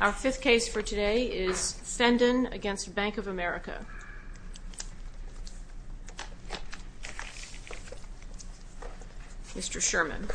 Our fifth case for today is Fendon v. Bank of America. Mr. Sherman.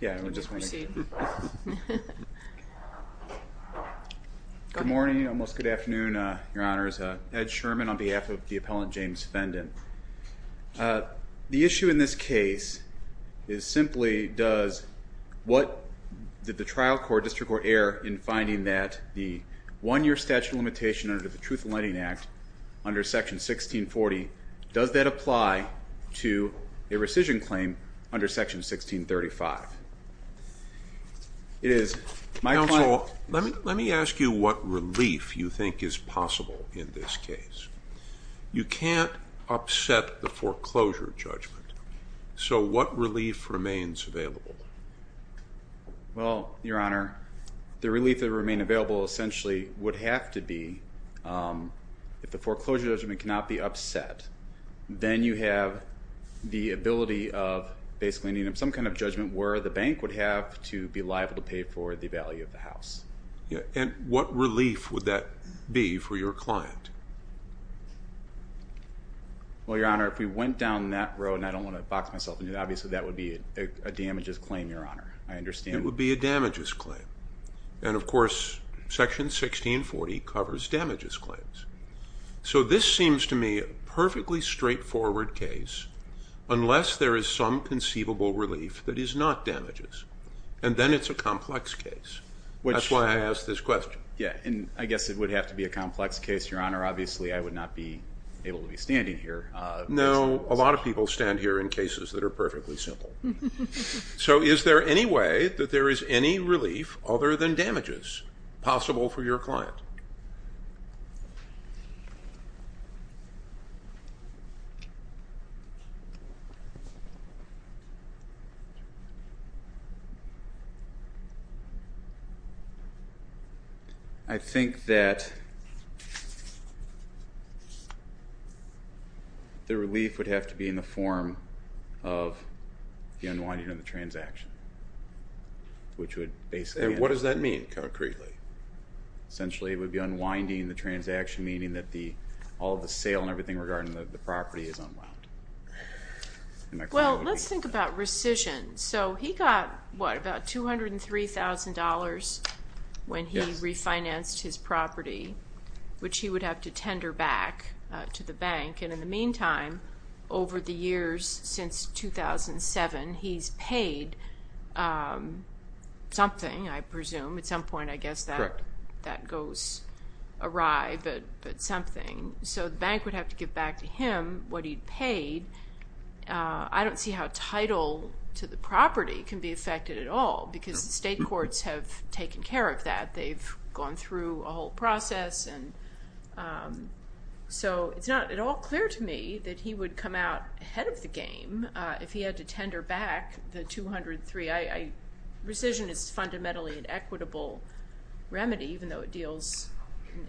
Good morning, almost good afternoon, your honors. Ed Sherman on behalf of the appellant James Fendon. The issue in this case is simply does what did the trial court, district court, err in finding that the one-year statute of limitation under the Truth in Lighting Act, under section 1640, does that apply to a rescission claim under section 1635? It is my point... Counsel, let me ask you what relief you think is possible in this case. You can't upset the foreclosure judgment, so what relief remains available? Well, your honor, the relief that would remain available essentially would have to be if the foreclosure judgment cannot be upset, then you have the ability of basically needing some kind of judgment where the bank would have to be liable to pay for the value of the house. And what relief would that be for your client? Well, your honor, if we went down that road, and I don't want to box myself in, obviously that would be a damages claim, your honor. I understand... It would be a damages claim. And of course, section 1640 covers damages claims. So this seems to me a perfectly straightforward case unless there is some conceivable relief that is not damages. And then it's a complex case. That's why I asked this question. Yeah, and I guess it would have to be a complex case, your honor. Obviously, I would not be able to be standing here. No, a lot of people stand here in cases that are perfectly simple. So is there any way that there is any relief other than damages possible for your client? I think that the relief would have to be in the form of the unwinding of the transaction, which would basically... And what does that mean, concretely? It would be unwinding the transaction, meaning that all the sale and everything regarding the property is unwound. Well, let's think about rescission. So he got, what, about $203,000 when he refinanced his property, which he would have to tender back to the bank. And in the meantime, over the years since 2007, he's paid something, I presume. At some point, I guess, that goes awry, but something. So the bank would have to give back to him what he'd paid. I don't see how title to the property can be affected at all because the state courts have taken care of that. They've gone through a whole process. So it's not at all clear to me that he would come out ahead of the game if he had to tender back the $203,000. Rescission is fundamentally an equitable remedy, even though it deals,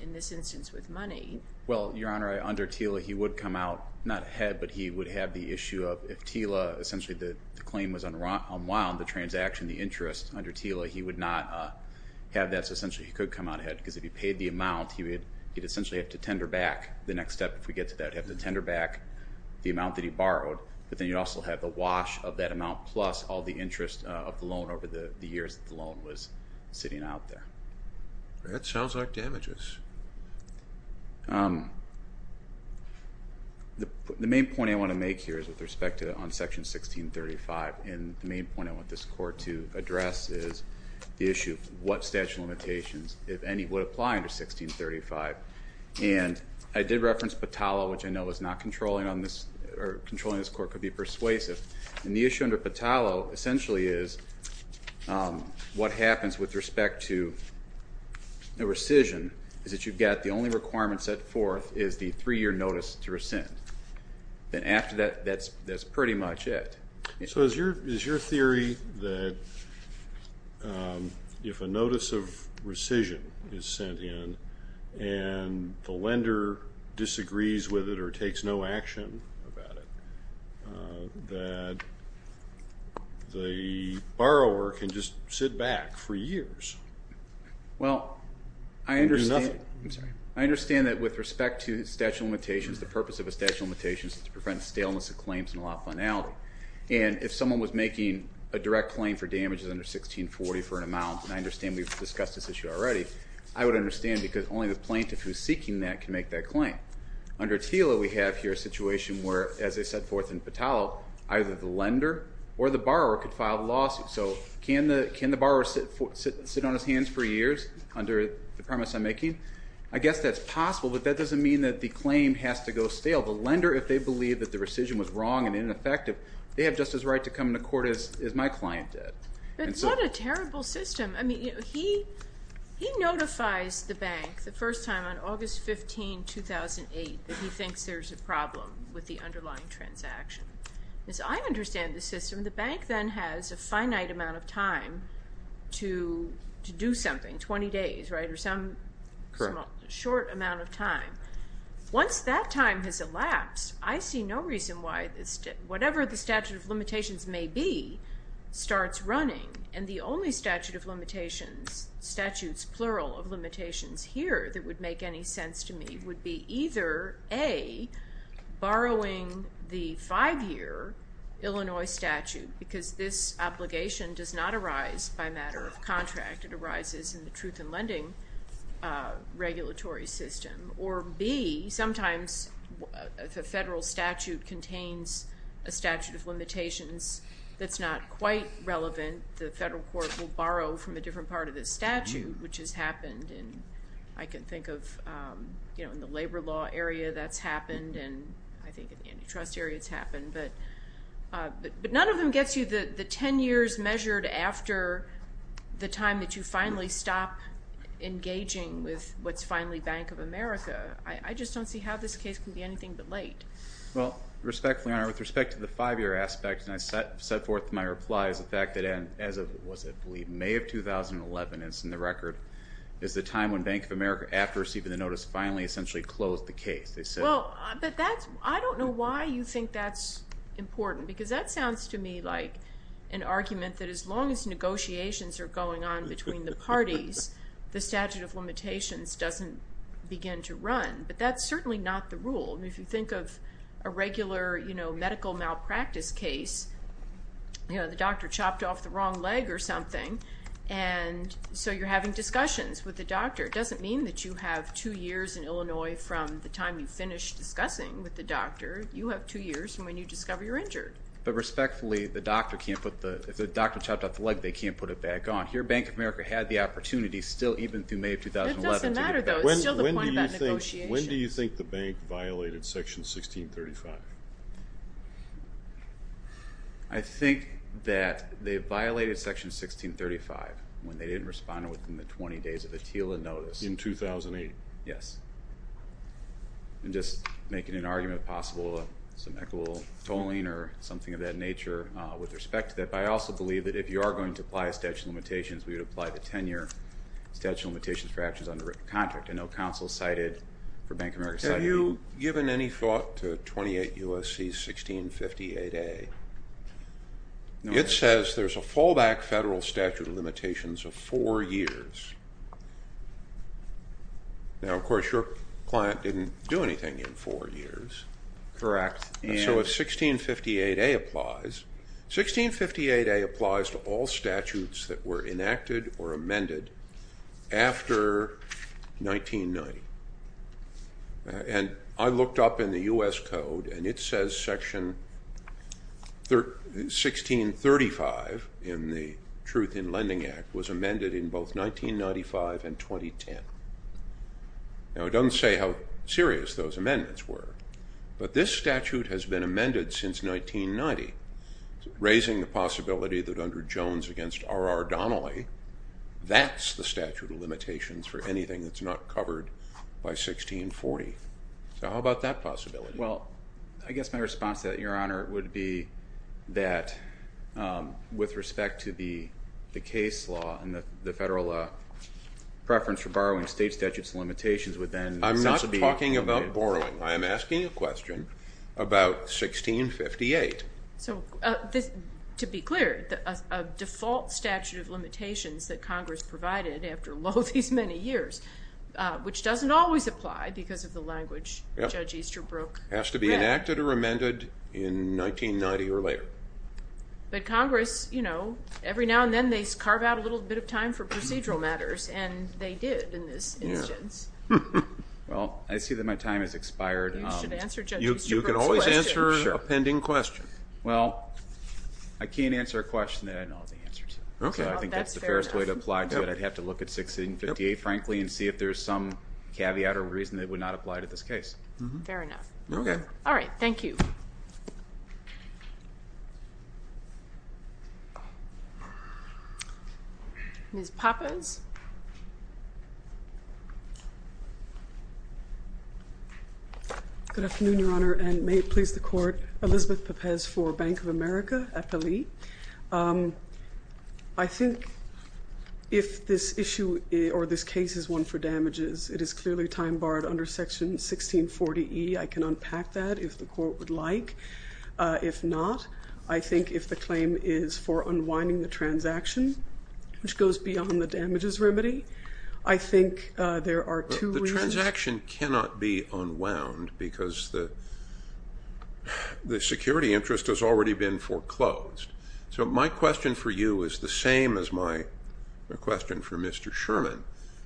in this instance, with money. Well, Your Honor, under TILA, he would come out not ahead, but he would have the issue of, if TILA, essentially the claim was unwound, the transaction, the interest, under TILA, he would not have that. That's essentially he could come out ahead because if he paid the amount, he'd essentially have to tender back the next step. If we get to that, he'd have to tender back the amount that he borrowed, but then he'd also have the wash of that amount plus all the interest of the loan over the years that the loan was sitting out there. That sounds like damages. The main point I want to make here is with respect to on Section 1635, and the main point I want this Court to address is the issue of what statute of limitations, if any, would apply under 1635. And I did reference Patalo, which I know is not controlling on this, or controlling this Court could be persuasive. And the issue under Patalo essentially is what happens with respect to a rescission is that you've got the only requirement set forth is the 3-year notice to rescind. Then after that, that's pretty much it. So is your theory that if a notice of rescission is sent in and the lender disagrees with it or takes no action about it, that the borrower can just sit back for years and do nothing? Well, I understand that with respect to statute of limitations, the purpose of a statute of limitations is to prevent staleness of claims and a lot of finality. And if someone was making a direct claim for damages under 1640 for an amount, and I understand we've discussed this issue already, I would understand because only the plaintiff who's seeking that can make that claim. Under TILA, we have here a situation where, as they set forth in Patalo, either the lender or the borrower could file a lawsuit. So can the borrower sit on his hands for years under the premise I'm making? I guess that's possible, but that doesn't mean that the claim has to go stale. The lender, if they believe that the rescission was wrong and ineffective, they have just as right to come to court as my client did. But what a terrible system. I mean, he notifies the bank the first time on August 15, 2008, that he thinks there's a problem with the underlying transaction. As I understand the system, the bank then has a finite amount of time to do something, 20 days, right, or some short amount of time. Once that time has elapsed, I see no reason why whatever the statute of limitations may be starts running, and the only statute of limitations, statutes plural of limitations here, that would make any sense to me would be either, A, borrowing the five-year Illinois statute, because this obligation does not arise by matter of contract. It arises in the truth in lending regulatory system. Or, B, sometimes the federal statute contains a statute of limitations that's not quite relevant. The federal court will borrow from a different part of the statute, which has happened. And I can think of, you know, in the labor law area that's happened, and I think in the antitrust area it's happened. But none of them gets you the 10 years measured after the time that you finally stop engaging with what's finally Bank of America. I just don't see how this case can be anything but late. Well, respectfully, Your Honor, with respect to the five-year aspect, and I set forth my reply as a fact that as of, was it, I believe, May of 2011, and it's in the record, is the time when Bank of America, after receiving the notice, finally essentially closed the case. Well, but that's, I don't know why you think that's important, because that sounds to me like an argument that as long as negotiations are going on between the parties, the statute of limitations doesn't begin to run. But that's certainly not the rule. I mean, if you think of a regular, you know, medical malpractice case, you know, the doctor chopped off the wrong leg or something, and so you're having discussions with the doctor. It doesn't mean that you have two years in Illinois from the time you finish discussing with the doctor. You have two years from when you discover you're injured. But respectfully, the doctor can't put the, if the doctor chopped off the leg, they can't put it back on. Here Bank of America had the opportunity still even through May of 2011. It doesn't matter, though. It's still the point of that negotiation. When do you think the bank violated Section 1635? I think that they violated Section 1635 when they didn't respond within the 20 days of the TILA notice. In 2008? Yes. I'm just making an argument of possible some equitable tolling or something of that nature with respect to that. But I also believe that if you are going to apply a statute of limitations, we would apply the 10-year statute of limitations for actions under written contract. I know counsel cited, or Bank of America cited. Have you given any thought to 28 U.S.C. 1658A? It says there's a fallback federal statute of limitations of four years. Now, of course, your client didn't do anything in four years. Correct. So if 1658A applies, 1658A applies to all statutes that were enacted or amended after 1990. And I looked up in the U.S. Code, and it says Section 1635 in the Truth in Lending Act was amended in both 1995 and 2010. Now, it doesn't say how serious those amendments were, but this statute has been amended since 1990, raising the possibility that under Jones against R.R. Donnelly, that's the statute of limitations for anything that's not covered by 1640. So how about that possibility? Well, I guess my response to that, Your Honor, would be that with respect to the case law and the federal preference for borrowing state statutes of limitations would then not be permitted. I'm not talking about borrowing. I am asking a question about 1658. So to be clear, a default statute of limitations that Congress provided after all these many years, which doesn't always apply because of the language Judge Easterbrook read. It has to be enacted or amended in 1990 or later. But Congress, you know, every now and then they carve out a little bit of time for procedural matters, and they did in this instance. Well, I see that my time has expired. You should answer Judge Easterbrook's question. Well, I can't answer a question that I know the answer to. So I think that's the fairest way to apply to it. I'd have to look at 1658, frankly, and see if there's some caveat or reason that would not apply to this case. Fair enough. Okay. All right. Thank you. Ms. Pappas. Good afternoon, Your Honor, and may it please the Court. Elizabeth Pappas for Bank of America at Belize. I think if this issue or this case is one for damages, it is clearly time barred under Section 1640E. I can unpack that if the Court would like. If not, I think if the claim is for unwinding the transaction, which goes beyond the damages, I think there are two reasons. The transaction cannot be unwound because the security interest has already been foreclosed. So my question for you is the same as my question for Mr. Sherman,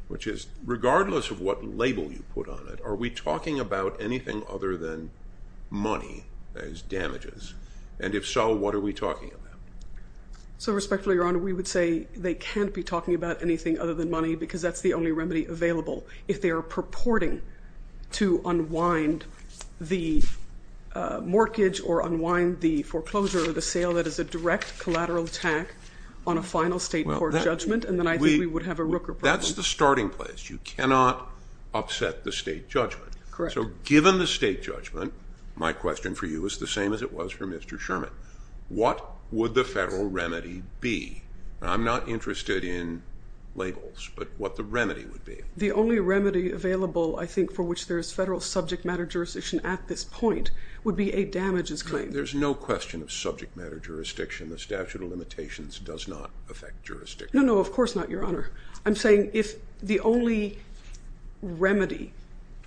which is regardless of what label you put on it, are we talking about anything other than money as damages? And if so, what are we talking about? So respectfully, Your Honor, we would say they can't be talking about anything other than money because that's the only remedy available. If they are purporting to unwind the mortgage or unwind the foreclosure or the sale, that is a direct collateral attack on a final state court judgment, and then I think we would have a Rooker problem. That's the starting place. You cannot upset the state judgment. Correct. So given the state judgment, my question for you is the same as it was for Mr. Sherman. What would the federal remedy be? I'm not interested in labels, but what the remedy would be. The only remedy available, I think, for which there is federal subject matter jurisdiction at this point would be a damages claim. There's no question of subject matter jurisdiction. The statute of limitations does not affect jurisdiction. No, no, of course not, Your Honor. I'm saying if the only remedy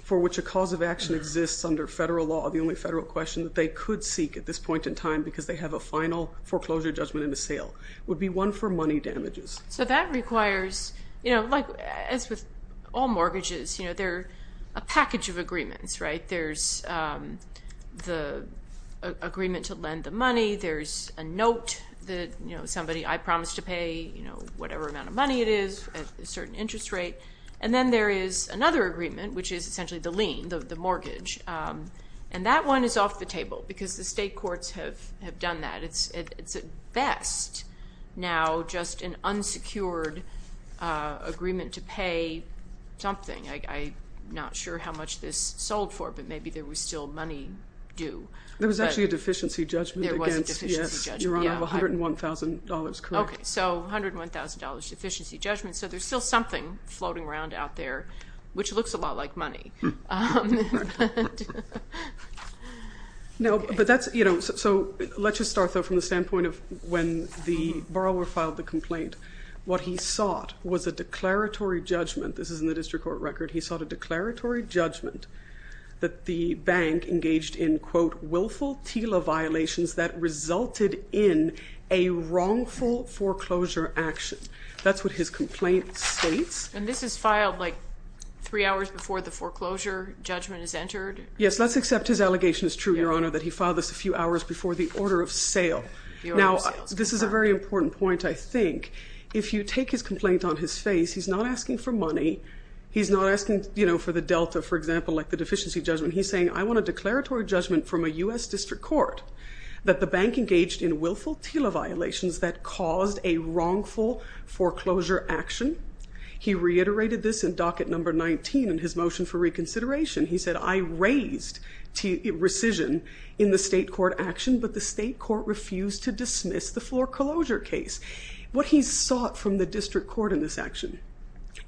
for which a cause of action exists under federal law, the only federal question that they could seek at this point in time because they have a final foreclosure judgment and a sale, would be one for money damages. So that requires, you know, like as with all mortgages, you know, there are a package of agreements, right? There's the agreement to lend the money. There's a note that, you know, somebody I promised to pay, you know, whatever amount of money it is at a certain interest rate, and then there is another agreement, which is essentially the lien, the mortgage, and that one is off the table because the state courts have done that. It's at best now just an unsecured agreement to pay something. I'm not sure how much this sold for, but maybe there was still money due. There was actually a deficiency judgment. There was a deficiency judgment, yes. Your Honor, I have $101,000 correct. Okay, so $101,000 deficiency judgment. So there's still something floating around out there, which looks a lot like money. No, but that's, you know, so let's just start from the standpoint of when the borrower filed the complaint. What he sought was a declaratory judgment. This is in the district court record. He sought a declaratory judgment that the bank engaged in, quote, willful TILA violations that resulted in a wrongful foreclosure action. That's what his complaint states. And this is filed, like, three hours before the foreclosure judgment is entered? Yes, let's accept his allegation is true, Your Honor, that he filed this a few hours before the order of sale. Now, this is a very important point, I think. If you take his complaint on his face, he's not asking for money. He's not asking, you know, for the delta, for example, like the deficiency judgment. He's saying, I want a declaratory judgment from a U.S. district court that the bank engaged in willful TILA violations that caused a wrongful foreclosure action. He reiterated this in docket number 19 in his motion for reconsideration. He said, I raised rescission in the state court action, but the state court refused to dismiss the foreclosure case. What he sought from the district court in this action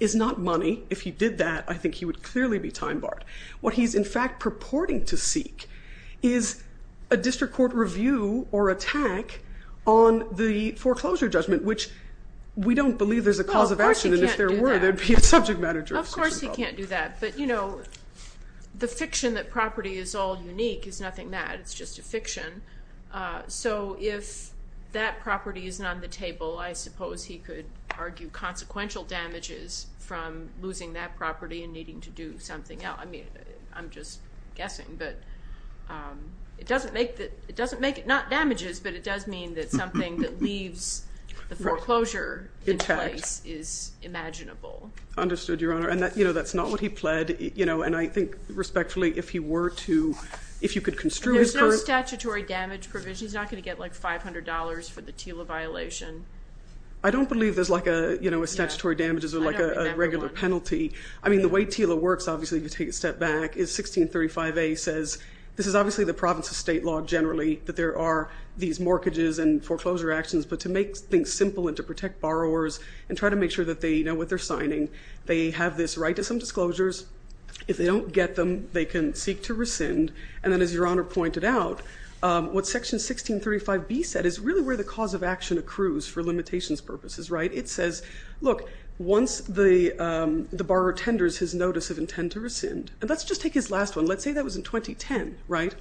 is not money. If he did that, I think he would clearly be time barred. What he's, in fact, purporting to seek is a district court review or attack on the foreclosure judgment, which we don't believe there's a cause of action, and if there were, there'd be a subject matter jurisdiction problem. Of course he can't do that. But, you know, the fiction that property is all unique is nothing that. It's just a fiction. So if that property isn't on the table, I suppose he could argue consequential damages from losing that property and needing to do something else. I mean, I'm just guessing, but it doesn't make it not damages, but it does mean that something that leaves the foreclosure in place is imaginable. Understood, Your Honor. And, you know, that's not what he pled, you know, and I think respectfully if he were to, if you could construe his current. There's no statutory damage provision. He's not going to get like $500 for the TILA violation. I don't believe there's like a, you know, a statutory damages or like a regular penalty. I mean, the way TILA works, obviously, if you take a step back, is 1635A says this is obviously the province of state law generally that there are these mortgages and foreclosure actions, but to make things simple and to protect borrowers and try to make sure that they know what they're signing. They have this right to some disclosures. If they don't get them, they can seek to rescind. And then as Your Honor pointed out, what Section 1635B said is really where the cause of action accrues for limitations purposes, right? It says, look, once the borrower tenders his notice of intent to rescind, and let's just take his last one. Let's say that was in 2010, right?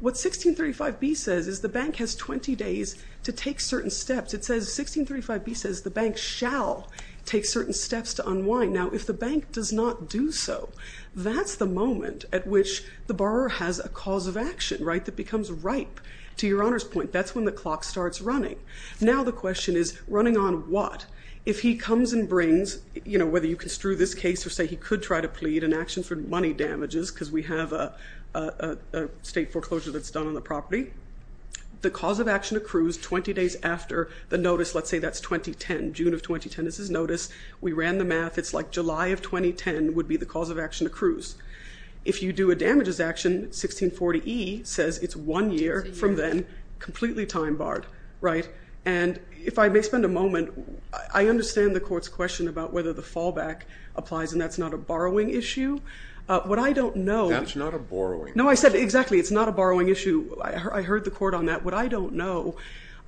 What 1635B says is the bank has 20 days to take certain steps. It says 1635B says the bank shall take certain steps to unwind. Now, if the bank does not do so, that's the moment at which the borrower has a cause of action, right, that becomes ripe. To Your Honor's point, that's when the clock starts running. Now the question is running on what? If he comes and brings, you know, whether you construe this case or say he could try to plead an action for money damages because we have a state foreclosure that's done on the property, the cause of action accrues 20 days after the notice. Let's say that's 2010, June of 2010 is his notice. We ran the math. It's like July of 2010 would be the cause of action accrues. If you do a damages action, 1640E says it's one year from then, completely time barred, right? And if I may spend a moment, I understand the court's question about whether the fallback applies and that's not a borrowing issue. What I don't know. That's not a borrowing issue. No, I said exactly, it's not a borrowing issue. I heard the court on that. What I don't know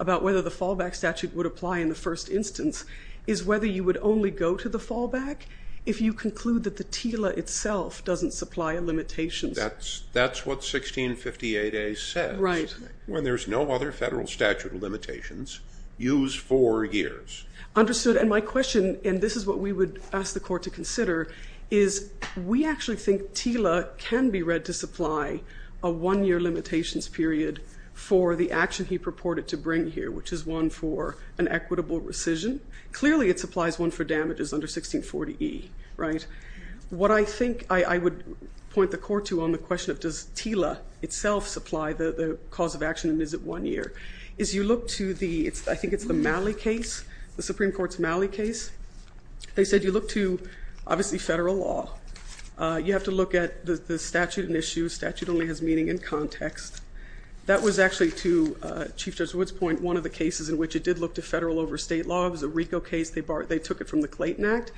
about whether the fallback statute would apply in the first instance is whether you would only go to the fallback if you conclude that the TILA itself doesn't supply a limitation. That's what 1658A says. Right. When there's no other federal statute of limitations, use four years. Understood, and my question, and this is what we would ask the court to consider, is we actually think TILA can be read to supply a one-year limitations period for the action he purported to bring here, which is one for an equitable rescission. Clearly, it supplies one for damages under 1640E, right? What I think I would point the court to on the question of does TILA itself supply the cause of action and is it one year, is you look to the, I think it's the Malley case, the Supreme Court's Malley case. They said you look to, obviously, federal law. You have to look at the statute and issue. Statute only has meaning in context. That was actually, to Chief Judge Wood's point, one of the cases in which it did look to federal over state law. It was a RICO case. They took it from the Clayton Act.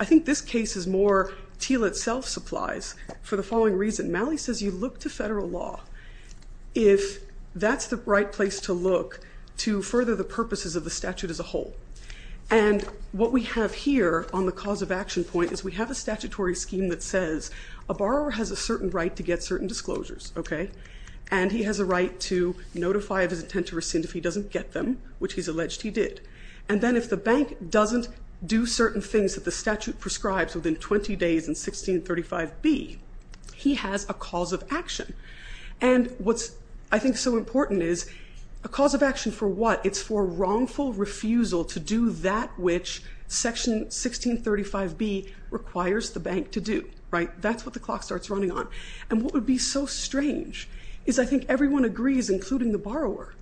I think this case is more TILA itself supplies for the following reason. Malley says you look to federal law if that's the right place to look to further the purposes of the statute as a whole, and what we have here on the cause of action point is we have a statutory scheme that says a borrower has a certain right to get certain disclosures, okay, and he has a right to notify of his intent to rescind if he doesn't get them, which he's alleged he did, and then if the bank doesn't do certain things that the statute prescribes within 20 days in 1635B, he has a cause of action, and what's, I think, so important is a cause of action for what? It's for wrongful refusal to do that which Section 1635B requires the bank to do, right? That's what the clock starts running on, and what would be so strange is I think everyone agrees, including the borrower,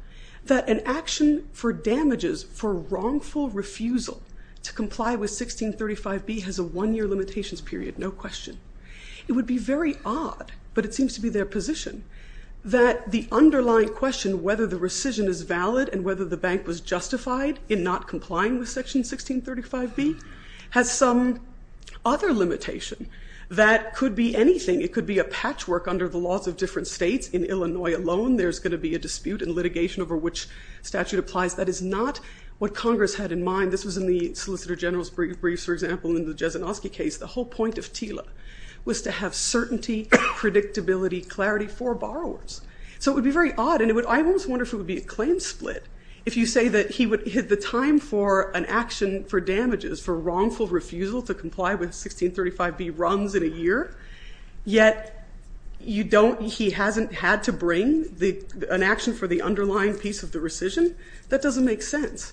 that an action for damages for wrongful refusal to comply with 1635B has a one-year limitations period, no question. It would be very odd, but it seems to be their position, that the underlying question whether the rescission is valid and whether the bank was justified in not complying with Section 1635B has some other limitation that could be anything. It could be a patchwork under the laws of different states. In Illinois alone, there's going to be a dispute and litigation over which statute applies. That is not what Congress had in mind. This was in the Solicitor General's briefs, for example, in the Jezinoski case. The whole point of TILA was to have certainty, predictability, clarity for borrowers, so it would be very odd, and I almost wonder if it would be a claim split if you say that he would hit the time for an action for damages for wrongful refusal to comply with 1635B runs in a year, yet he hasn't had to bring an action for the underlying piece of the rescission. That doesn't make sense,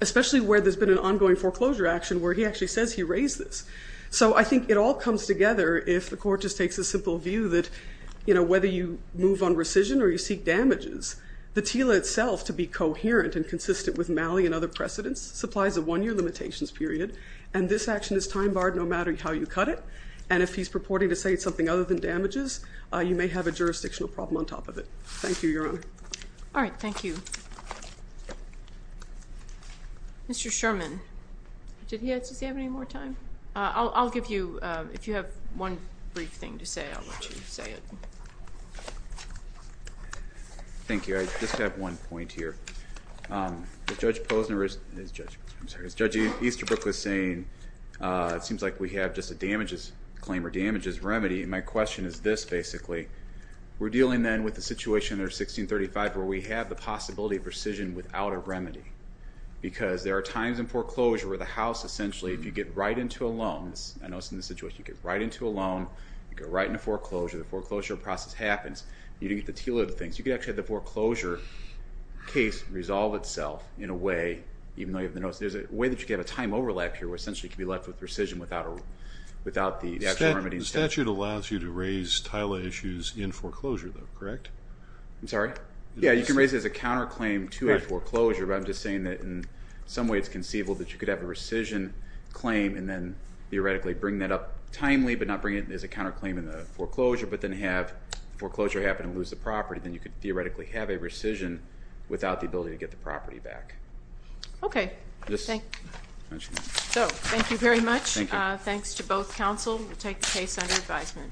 especially where there's been an ongoing foreclosure action where he actually says he raised this. So I think it all comes together if the Court just takes a simple view that whether you move on rescission or you seek damages, the TILA itself, to be coherent and consistent with Malley and other precedents, supplies a one-year limitations period, and this action is time barred no matter how you cut it, and if he's purporting to say it's something other than damages, you may have a jurisdictional problem on top of it. Thank you, Your Honor. All right. Thank you. Mr. Sherman. Does he have any more time? I'll give you, if you have one brief thing to say, I'll let you say it. Thank you. I just have one point here. As Judge Easterbrook was saying, it seems like we have just a damages claim or damages remedy, and my question is this, basically. We're dealing then with the situation under 1635 where we have the possibility of rescission without a remedy because there are times in foreclosure where the house essentially, if you get right into a loan, I know it's in this situation, you get right into a loan, you go right into foreclosure, the foreclosure process happens, you don't get the TILA, the things. Does the case resolve itself in a way, even though you have the notice, there's a way that you can have a time overlap here where essentially you can be left with rescission without the remedy. The statute allows you to raise TILA issues in foreclosure though, correct? I'm sorry? Yeah, you can raise it as a counterclaim to a foreclosure, but I'm just saying that in some way it's conceivable that you could have a rescission claim and then theoretically bring that up timely but not bring it as a counterclaim in the foreclosure, but then have foreclosure happen and lose the property, then you could theoretically have a rescission without the ability to get the property back. Okay. Thank you. So, thank you very much. Thanks to both counsel. We'll take the case under advisement.